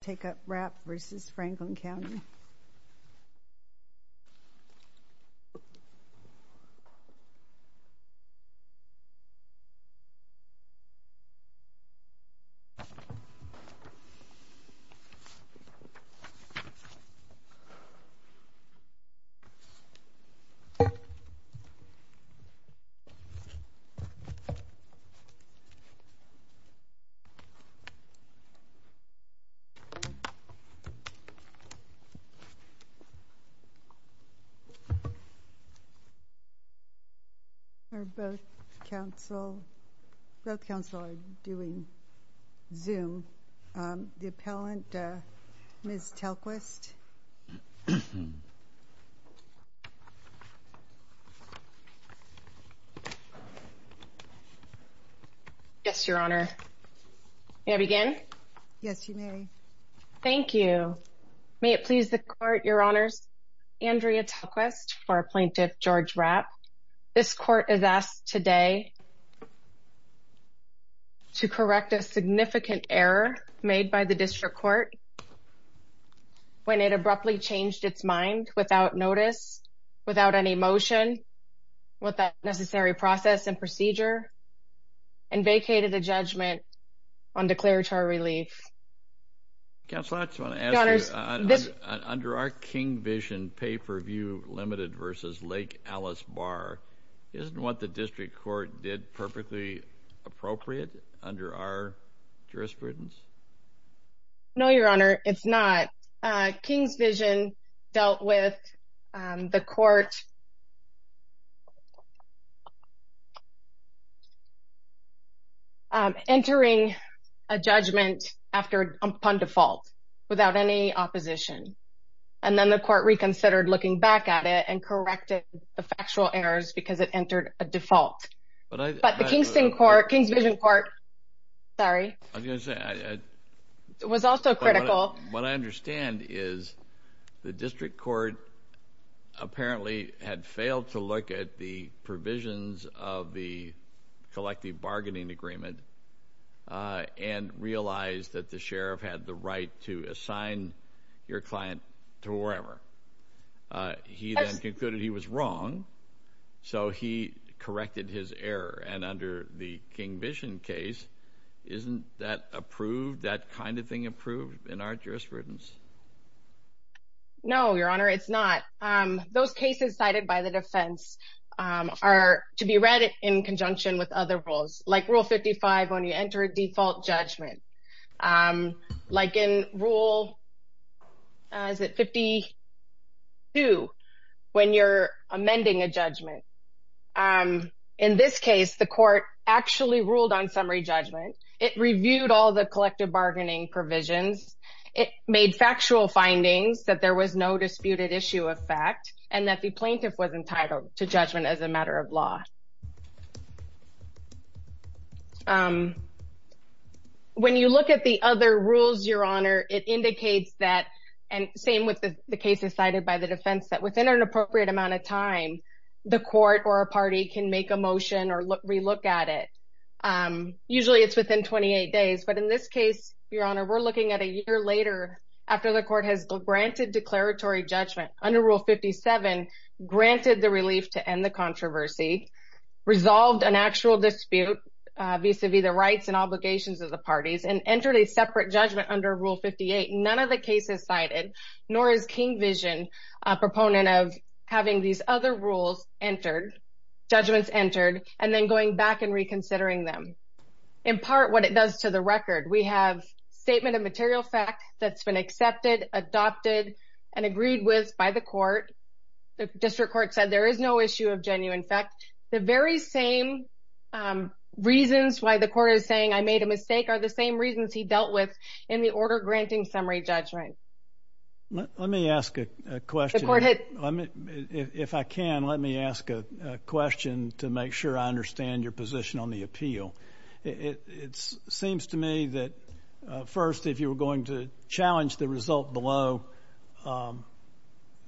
Take up Rapp v. Franklin County Take up Rapp v. Franklin County Thank you. May it please the court, your honors, Andrea Tequest for Plaintiff George Rapp. This court is asked today to correct a significant error made by the District Court when it abruptly changed its mind without notice, without any motion, without necessary process and procedure, and vacated the judgment on declaratory relief. Counselor, I just want to ask you, under our King vision pay-per-view limited v. Lake Alice Barr, isn't what the District Court did perfectly appropriate under our jurisprudence? No, your honor, it's not. King's vision dealt with the court entering a judgment upon default without any opposition, and then the court reconsidered looking back at it and corrected the factual errors because it entered a default. But the King's vision court was also critical. What I understand is the District Court apparently had failed to look at the provisions of the collective bargaining agreement and realized that the sheriff had the right to assign your client to wherever. He then concluded he was wrong, so he corrected his error. And under the King vision case, isn't that approved, that kind of thing approved in our jurisprudence? No, your honor, it's not. Those cases cited by the defense are to be read in conjunction with other rules, like rule 55 when you enter a default judgment. Like in rule, is it 52 when you're amending a judgment. In this case, the court actually ruled on summary judgment. It reviewed all the collective bargaining provisions. It made factual findings that there was no disputed issue of fact and that the plaintiff was entitled to judgment as a matter of law. When you look at the other rules, your honor, it indicates that, and same with the cases cited by the defense, that within an appropriate amount of time, the court or a party can make a motion or relook at it. Usually it's within 28 days, but in this case, your honor, we're looking at a year later after the court has granted declaratory judgment under rule 57 granted the relief to end the controversy. Resolved an actual dispute vis-a-vis the rights and obligations of the parties and entered a separate judgment under rule 58. None of the cases cited, nor is King Vision a proponent of having these other rules entered, judgments entered, and then going back and reconsidering them. In part, what it does to the record, we have statement of material fact that's been accepted, adopted, and agreed with by the court. The district court said there is no issue of genuine fact. The very same reasons why the court is saying I made a mistake are the same reasons he dealt with in the order granting summary judgment. Let me ask a question. If I can, let me ask a question to make sure I understand your position on the appeal. It seems to me that, first, if you were going to challenge the result below,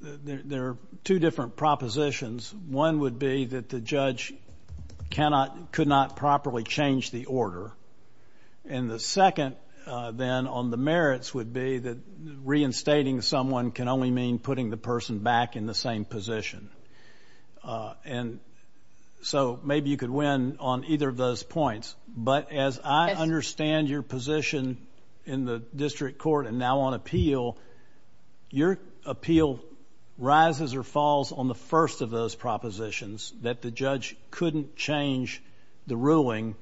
there are two different propositions. One would be that the judge could not properly change the order. And the second, then, on the merits would be that reinstating someone can only mean putting the person back in the same position. And so maybe you could win on either of those points. But as I understand your position in the district court and now on appeal, your appeal rises or falls on the first of those propositions, that the judge couldn't change the ruling,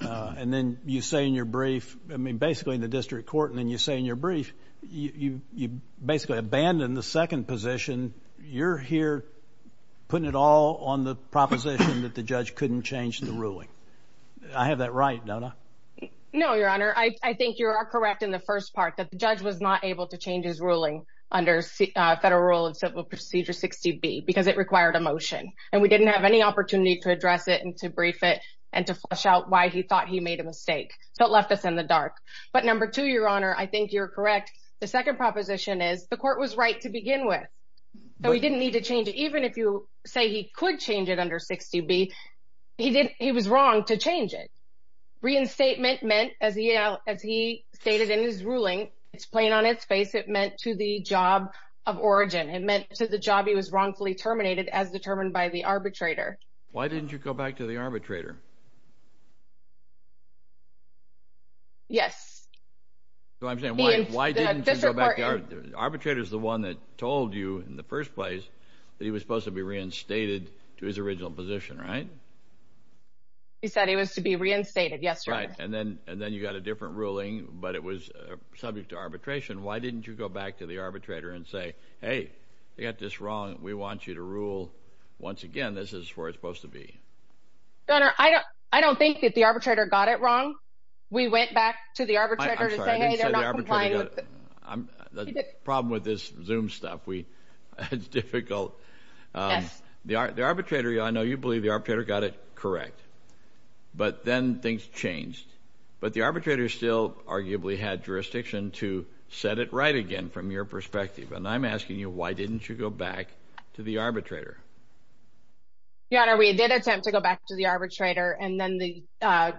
and then you say in your brief, I mean, basically in the district court, and then you say in your brief, you basically abandoned the second position. You're here putting it all on the proposition that the judge couldn't change the ruling. I have that right, don't I? No, Your Honor. I think you are correct in the first part, that the judge was not able to change his ruling under federal rule of civil procedure 60B because it required a motion, and we didn't have any opportunity to address it and to brief it and to flesh out why he thought he made a mistake. So it left us in the dark. But number two, Your Honor, I think you're correct. The second proposition is the court was right to begin with. So he didn't need to change it. Even if you say he could change it under 60B, he was wrong to change it. Reinstatement meant, as he stated in his ruling, it's plain on its face, it meant to the job of origin. It meant to the job he was wrongfully terminated as determined by the arbitrator. Why didn't you go back to the arbitrator? Yes. So I'm saying why didn't you go back to the arbitrator? The arbitrator is the one that told you in the first place that he was supposed to be reinstated to his original position, right? He said he was to be reinstated, yes, Your Honor. Right. And then you got a different ruling, but it was subject to arbitration. Why didn't you go back to the arbitrator and say, hey, they got this wrong. We want you to rule once again. This is where it's supposed to be. Your Honor, I don't think that the arbitrator got it wrong. We went back to the arbitrator to say, hey, they're not complying. The problem with this Zoom stuff, it's difficult. Yes. The arbitrator, I know you believe the arbitrator got it correct. But then things changed. But the arbitrator still arguably had jurisdiction to set it right again from your perspective. And I'm asking you, why didn't you go back to the arbitrator? Your Honor, we did attempt to go back to the arbitrator. And then the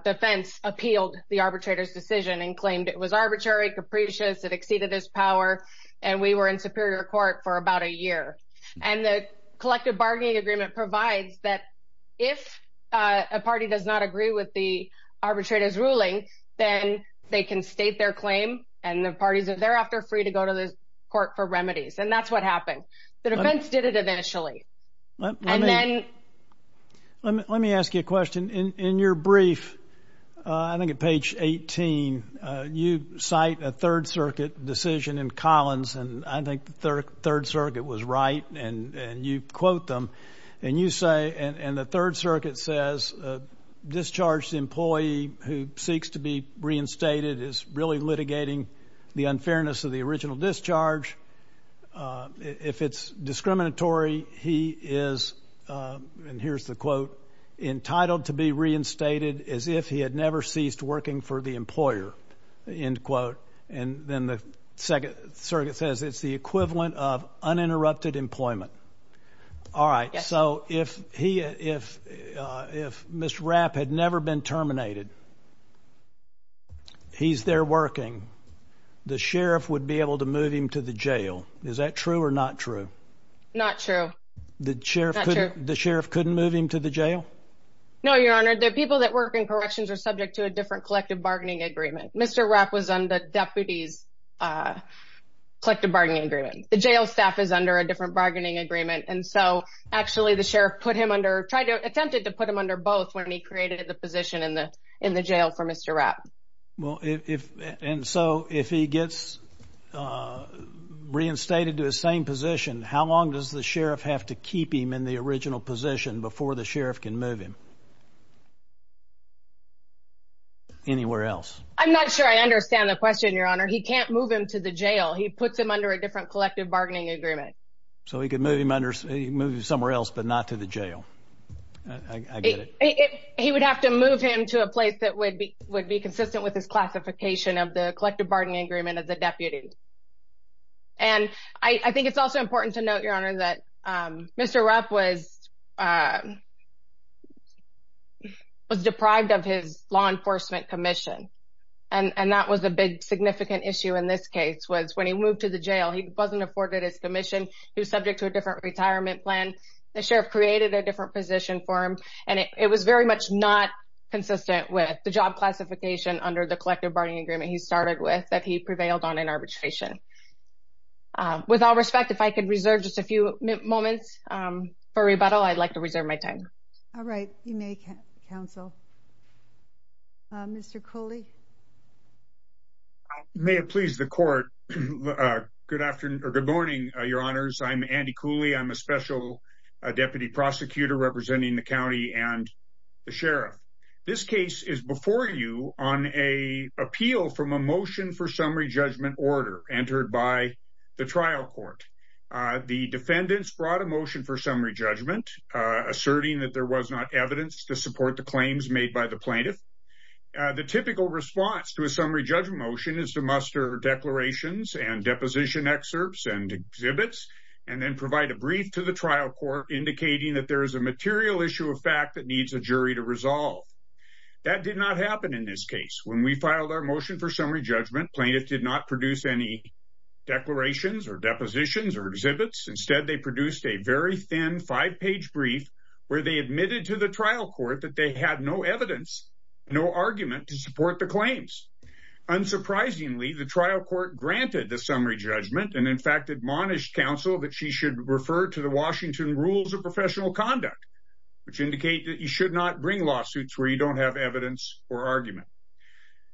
defense appealed the arbitrator's decision and claimed it was arbitrary, capricious, it exceeded his power. And we were in superior court for about a year. And the collective bargaining agreement provides that if a party does not agree with the arbitrator's ruling, then they can state their claim. And the parties are thereafter free to go to the court for remedies. And that's what happened. The defense did it eventually. Let me ask you a question. In your brief, I think at page 18, you cite a Third Circuit decision in Collins. And I think the Third Circuit was right. And you quote them. And you say, and the Third Circuit says, a discharged employee who seeks to be reinstated is really litigating the unfairness of the original discharge. If it's discriminatory, he is, and here's the quote, entitled to be reinstated as if he had never ceased working for the employer, end quote. And then the Second Circuit says it's the equivalent of uninterrupted employment. All right. So if he, if Mr. Rapp had never been terminated, he's there working, the sheriff would be able to move him to the jail. Is that true or not true? Not true. The sheriff couldn't move him to the jail? No, Your Honor. The people that work in corrections are subject to a different collective bargaining agreement. Mr. Rapp was under deputies' collective bargaining agreement. The jail staff is under a different bargaining agreement. And so actually the sheriff put him under, tried to, attempted to put him under both when he created the position in the jail for Mr. Rapp. Well, if, and so if he gets reinstated to his same position, how long does the sheriff have to keep him in the original position before the sheriff can move him? Anywhere else? I'm not sure I understand the question, Your Honor. He can't move him to the jail. He puts him under a different collective bargaining agreement. So he can move him somewhere else but not to the jail. I get it. He would have to move him to a place that would be consistent with his classification of the collective bargaining agreement as a deputy. And I think it's also important to note, Your Honor, that Mr. Rapp was deprived of his law enforcement commission. And that was a big significant issue in this case was when he moved to the jail, he wasn't afforded his commission. He was subject to a different retirement plan. The sheriff created a different position for him. And it was very much not consistent with the job classification under the collective bargaining agreement he started with that he prevailed on in arbitration. With all respect, if I could reserve just a few moments for rebuttal, I'd like to reserve my time. All right. You may, counsel. Mr. Cooley. May it please the court, good morning, Your Honors. I'm Andy Cooley. I'm a special deputy prosecutor representing the county and the sheriff. This case is before you on an appeal from a motion for summary judgment order entered by the trial court. The defendants brought a motion for summary judgment, asserting that there was not evidence to support the claims made by the plaintiff. The typical response to a summary judgment motion is to muster declarations and deposition excerpts and exhibits and then provide a brief to the trial court, indicating that there is a material issue of fact that needs a jury to resolve. That did not happen in this case. When we filed our motion for summary judgment, plaintiff did not produce any declarations or depositions or exhibits. Instead, they produced a very thin five-page brief where they admitted to the trial court that they had no evidence, no argument to support the claims. Unsurprisingly, the trial court granted the summary judgment and, in fact, admonished counsel that she should refer to the Washington Rules of Professional Conduct, which indicate that you should not bring lawsuits where you don't have evidence or argument.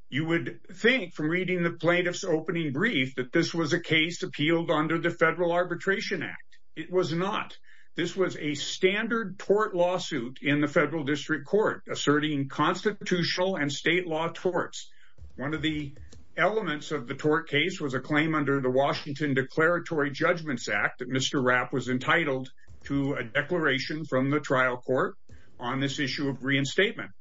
You would think from reading the plaintiff's opening brief that this was a case appealed under the Federal Arbitration Act. It was not. This was a standard tort lawsuit in the federal district court asserting constitutional and state law torts. One of the elements of the tort case was a claim under the Washington Declaratory Judgments Act that Mr. Rapp was entitled to a declaration from the trial court on this issue of reinstatement.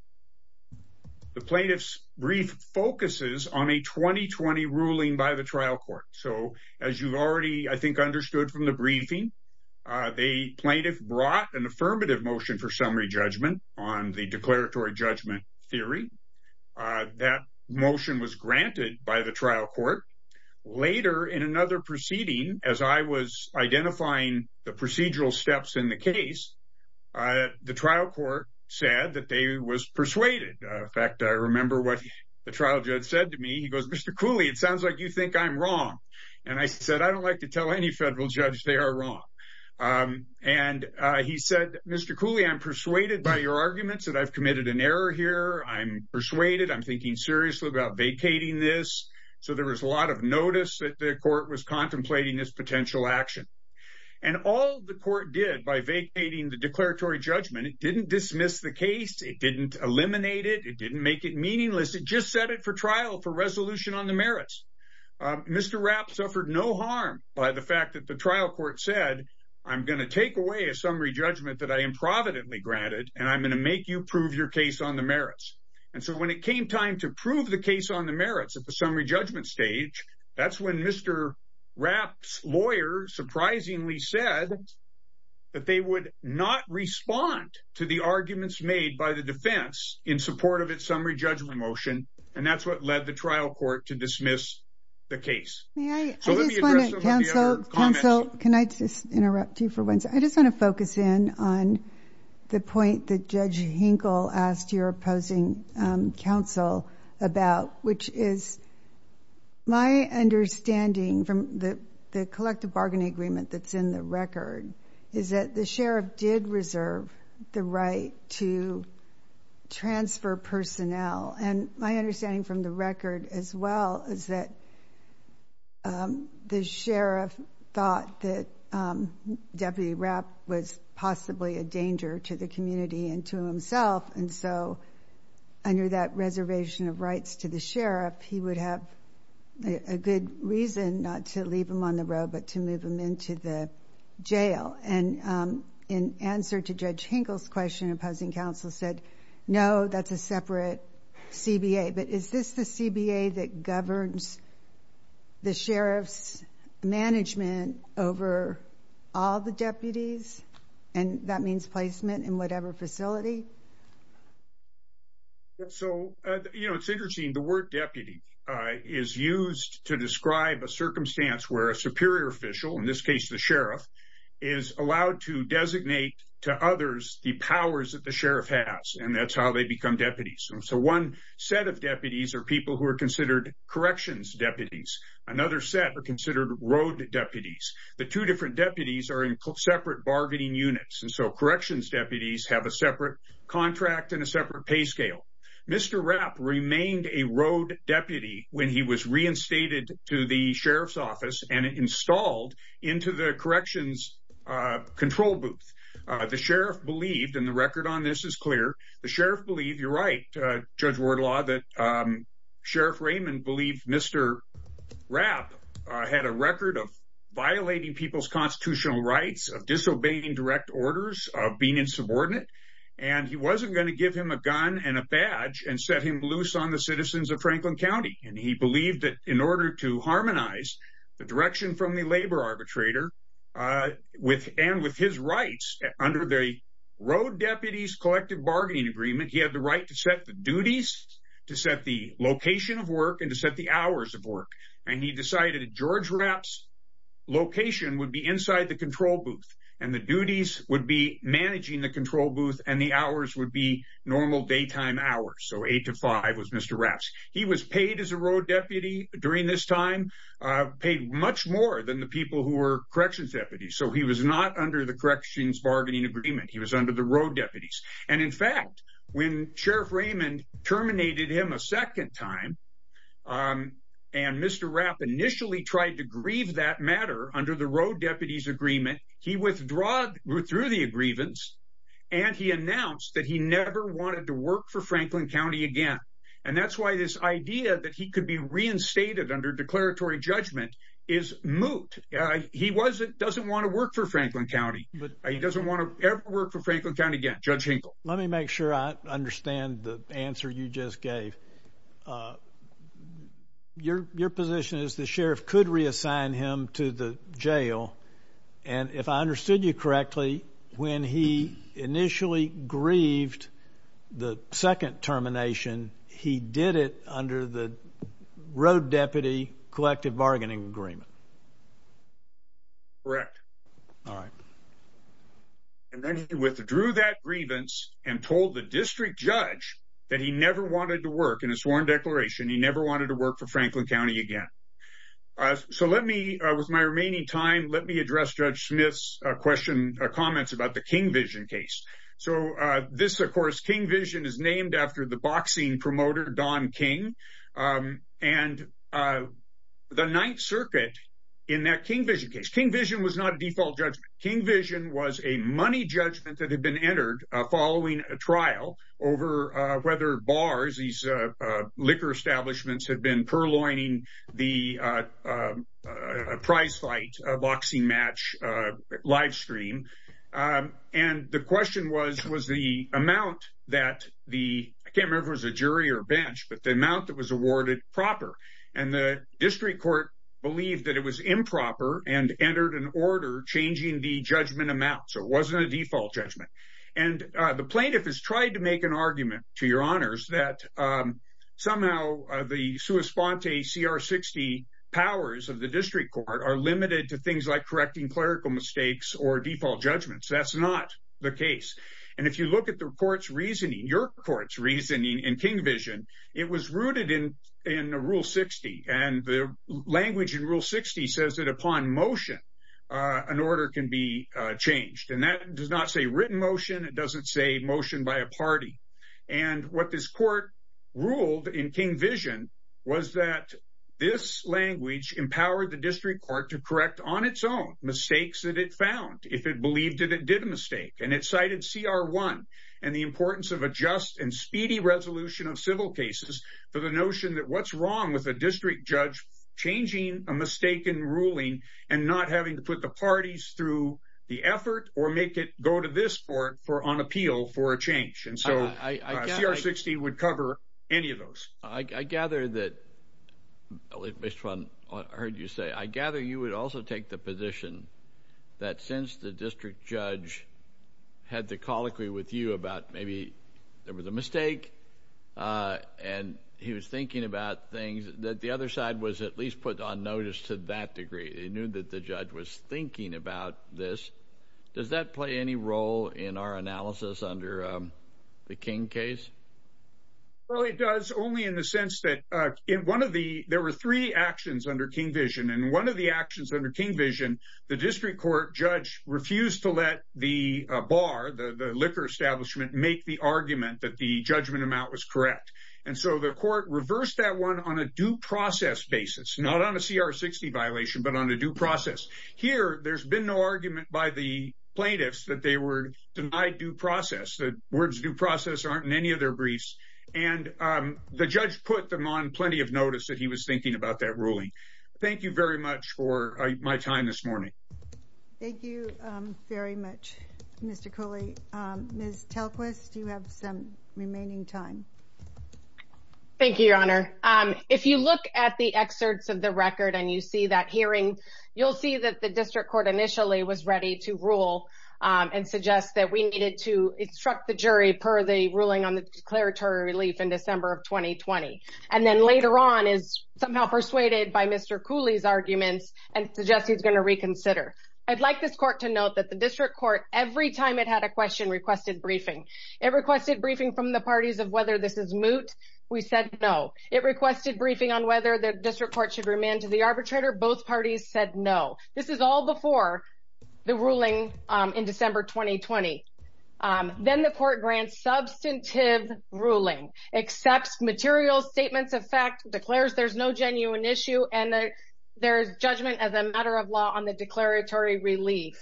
The plaintiff's brief focuses on a 2020 ruling by the trial court. So as you've already, I think, understood from the briefing, the plaintiff brought an affirmative motion for summary judgment on the declaratory judgment theory. That motion was granted by the trial court. Later in another proceeding, as I was identifying the procedural steps in the case, the trial court said that they was persuaded. In fact, I remember what the trial judge said to me. He goes, Mr. Cooley, it sounds like you think I'm wrong. And I said, I don't like to tell any federal judge they are wrong. And he said, Mr. Cooley, I'm persuaded by your arguments that I've committed an error here. I'm persuaded. I'm thinking seriously about vacating this. So there was a lot of notice that the court was contemplating this potential action. And all the court did by vacating the declaratory judgment, it didn't dismiss the case. It didn't eliminate it. It didn't make it meaningless. It just set it for trial for resolution on the merits. Mr. Rapp suffered no harm by the fact that the trial court said, I'm going to take away a summary judgment that I improvidently granted, and I'm going to make you prove your case on the merits. And so when it came time to prove the case on the merits at the summary judgment stage, that's when Mr. Rapp's lawyer surprisingly said that they would not respond to the arguments made by the defense in support of its summary judgment motion. And that's what led the trial court to dismiss the case. So let me address some of the other comments. Counsel, can I just interrupt you for one second? I just want to focus in on the point that Judge Hinkle asked your opposing counsel about, which is my understanding from the collective bargaining agreement that's in the record is that the sheriff did reserve the right to transfer personnel. And my understanding from the record as well is that the sheriff thought that Deputy Rapp was possibly a danger to the community and to himself. And so under that reservation of rights to the sheriff, he would have a good reason not to leave him on the road, but to move him into the jail. And in answer to Judge Hinkle's question, opposing counsel said, no, that's a separate CBA. But is this the CBA that governs the sheriff's management over all the deputies? And that means placement in whatever facility. So, you know, it's interesting. The word deputy is used to describe a circumstance where a superior official, in this case the sheriff, is allowed to designate to others the powers that the sheriff has. And that's how they become deputies. So one set of deputies are people who are considered corrections deputies. Another set are considered road deputies. The two different deputies are in separate bargaining units. And so corrections deputies have a separate contract and a separate pay scale. Mr. Rapp remained a road deputy when he was reinstated to the sheriff's office and installed into the corrections control booth. The sheriff believed, and the record on this is clear, the sheriff believed, you're right, Judge Wardlaw, that Sheriff Raymond believed Mr. Rapp had a record of violating people's constitutional rights, of disobeying direct orders, of being insubordinate. And he wasn't going to give him a gun and a badge and set him loose on the citizens of Franklin County. And he believed that in order to harmonize the direction from the labor arbitrator and with his rights under the road deputies collective bargaining agreement, he had the right to set the duties, to set the location of work, and to set the hours of work. And he decided that George Rapp's location would be inside the control booth and the duties would be managing the control booth and the hours would be normal daytime hours. So 8 to 5 was Mr. Rapp's. He was paid as a road deputy during this time, paid much more than the people who were corrections deputies. So he was not under the corrections bargaining agreement. He was under the road deputies. And in fact, when Sheriff Raymond terminated him a second time and Mr. Rapp initially tried to grieve that matter under the road deputies agreement, he withdrew through the grievance and he announced that he never wanted to work for Franklin County again. And that's why this idea that he could be reinstated under declaratory judgment is moot. He doesn't want to work for Franklin County. He doesn't want to ever work for Franklin County again, Judge Hinkle. Let me make sure I understand the answer you just gave. Your position is the sheriff could reassign him to the jail. And if I understood you correctly, when he initially grieved the second termination, he did it under the road deputy collective bargaining agreement. Correct. All right. And then he withdrew that grievance and told the district judge that he never wanted to work in a sworn declaration. He never wanted to work for Franklin County again. So let me with my remaining time, let me address Judge Smith's question. Comments about the King Vision case. So this, of course, King Vision is named after the boxing promoter, Don King. And the Ninth Circuit in that King Vision case, King Vision was not a default judgment. King Vision was a money judgment that had been entered following a trial over whether bars, these liquor establishments, had been purloining the prize fight boxing match livestream. And the question was, was the amount that the camera was a jury or bench, but the amount that was awarded proper and the district court believed that it was improper and entered an order changing the judgment amount. So it wasn't a default judgment. And the plaintiff has tried to make an argument to your honors that somehow the sua sponte CR 60 powers of the district court are limited to things like correcting clerical mistakes or default judgments. And if you look at the court's reasoning, your court's reasoning and King Vision, it was rooted in the Rule 60 and the language in Rule 60 says that upon motion, an order can be changed. And that does not say written motion. It doesn't say motion by a party. And what this court ruled in King Vision was that this language empowered the district court to correct on its own mistakes that it found if it believed that it did a mistake. And it cited CR 1 and the importance of a just and speedy resolution of civil cases for the notion that what's wrong with a district judge changing a mistaken ruling and not having to put the parties through the effort or make it go to this court for on appeal for a change. And so CR 60 would cover any of those. I gather that this one I heard you say. I gather you would also take the position that since the district judge had the colloquy with you about maybe there was a mistake and he was thinking about things that the other side was at least put on notice to that degree. He knew that the judge was thinking about this. Does that play any role in our analysis under the King case? Well, it does only in the sense that in one of the there were three actions under King Vision and one of the actions under King Vision, the district court judge refused to let the bar, the liquor establishment, make the argument that the judgment amount was correct. And so the court reversed that one on a due process basis, not on a CR 60 violation, but on a due process here. There's been no argument by the plaintiffs that they were denied due process. The words due process aren't in any of their briefs. And the judge put them on plenty of notice that he was thinking about that ruling. Thank you very much for my time this morning. Thank you very much, Mr. Cooley. Ms. Telquist, you have some remaining time. Thank you, Your Honor. If you look at the excerpts of the record and you see that hearing, you'll see that the district court initially was ready to rule and suggest that we needed to instruct the jury per the ruling on the declaratory relief in December of 2020. And then later on is somehow persuaded by Mr. Cooley's arguments and suggest he's going to reconsider. I'd like this court to note that the district court every time it had a question requested briefing. It requested briefing from the parties of whether this is moot. We said no. It requested briefing on whether the district court should remain to the arbitrator. Both parties said no. This is all before the ruling in December 2020. Then the court grants substantive ruling, accepts material statements of fact, declares there's no genuine issue, and there's judgment as a matter of law on the declaratory relief.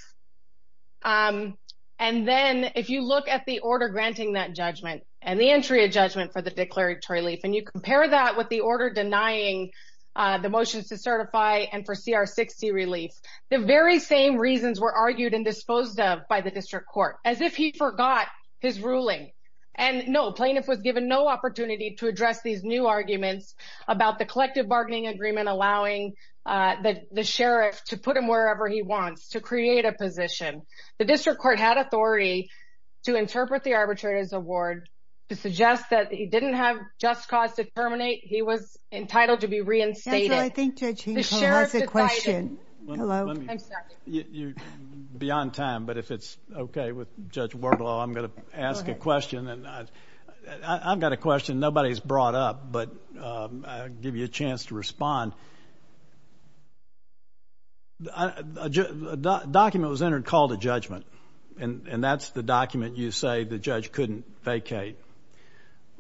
And then if you look at the order granting that judgment and the entry of judgment for the declaratory relief and you compare that with the order denying the motions to certify and for CR 60 relief. The very same reasons were argued and disposed of by the district court as if he forgot his ruling. And no plaintiff was given no opportunity to address these new arguments about the collective bargaining agreement, allowing the sheriff to put him wherever he wants to create a position. The district court had authority to interpret the arbitrator's award to suggest that he didn't have just cause to terminate. He was entitled to be reinstated. I think that's a question. Hello. I'm sorry. You're beyond time. But if it's OK with Judge Wardlow, I'm going to ask a question. And I've got a question. Nobody's brought up. But I'll give you a chance to respond. The document was entered called a judgment. And that's the document. You say the judge couldn't vacate.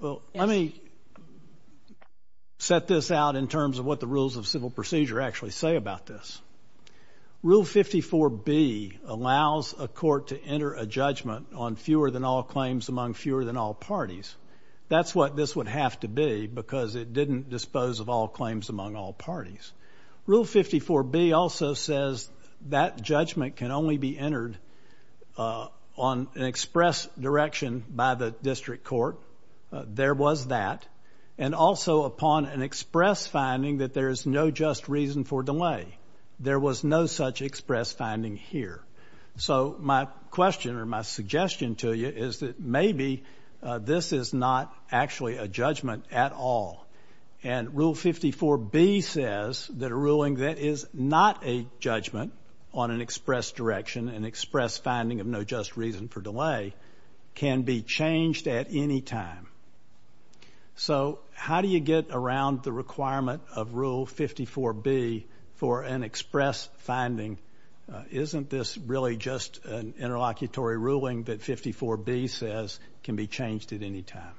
Well, let me set this out in terms of what the rules of civil procedure actually say about this. Rule 54B allows a court to enter a judgment on fewer than all claims among fewer than all parties. That's what this would have to be because it didn't dispose of all claims among all parties. Rule 54B also says that judgment can only be entered on an express direction by the district court. There was that. And also upon an express finding that there is no just reason for delay. There was no such express finding here. So my question or my suggestion to you is that maybe this is not actually a judgment at all. And Rule 54B says that a ruling that is not a judgment on an express direction, an express finding of no just reason for delay, can be changed at any time. So how do you get around the requirement of Rule 54B for an express finding? Isn't this really just an interlocutory ruling that 54B says can be changed at any time?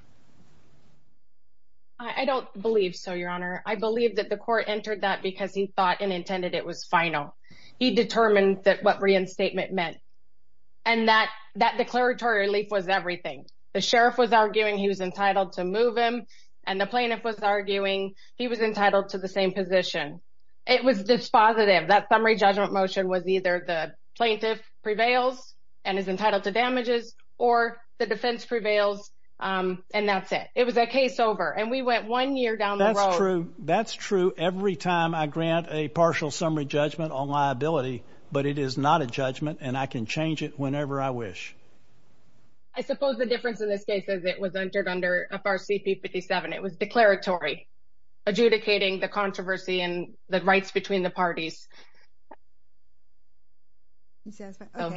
I don't believe so, Your Honor. I believe that the court entered that because he thought and intended it was final. He determined what reinstatement meant. And that declaratory relief was everything. The sheriff was arguing he was entitled to move him, and the plaintiff was arguing he was entitled to the same position. It was dispositive. That summary judgment motion was either the plaintiff prevails and is entitled to damages or the defense prevails, and that's it. It was a case over, and we went one year down the road. That's true. That's true every time I grant a partial summary judgment on liability. But it is not a judgment, and I can change it whenever I wish. I suppose the difference in this case is it was entered under FRCP 57. It was declaratory, adjudicating the controversy and the rights between the parties.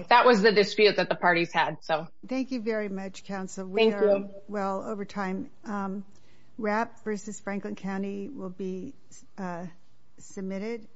That was the dispute that the parties had, so. Thank you very much, counsel. Thank you. We are well over time. Rapp v. Franklin County will be submitted.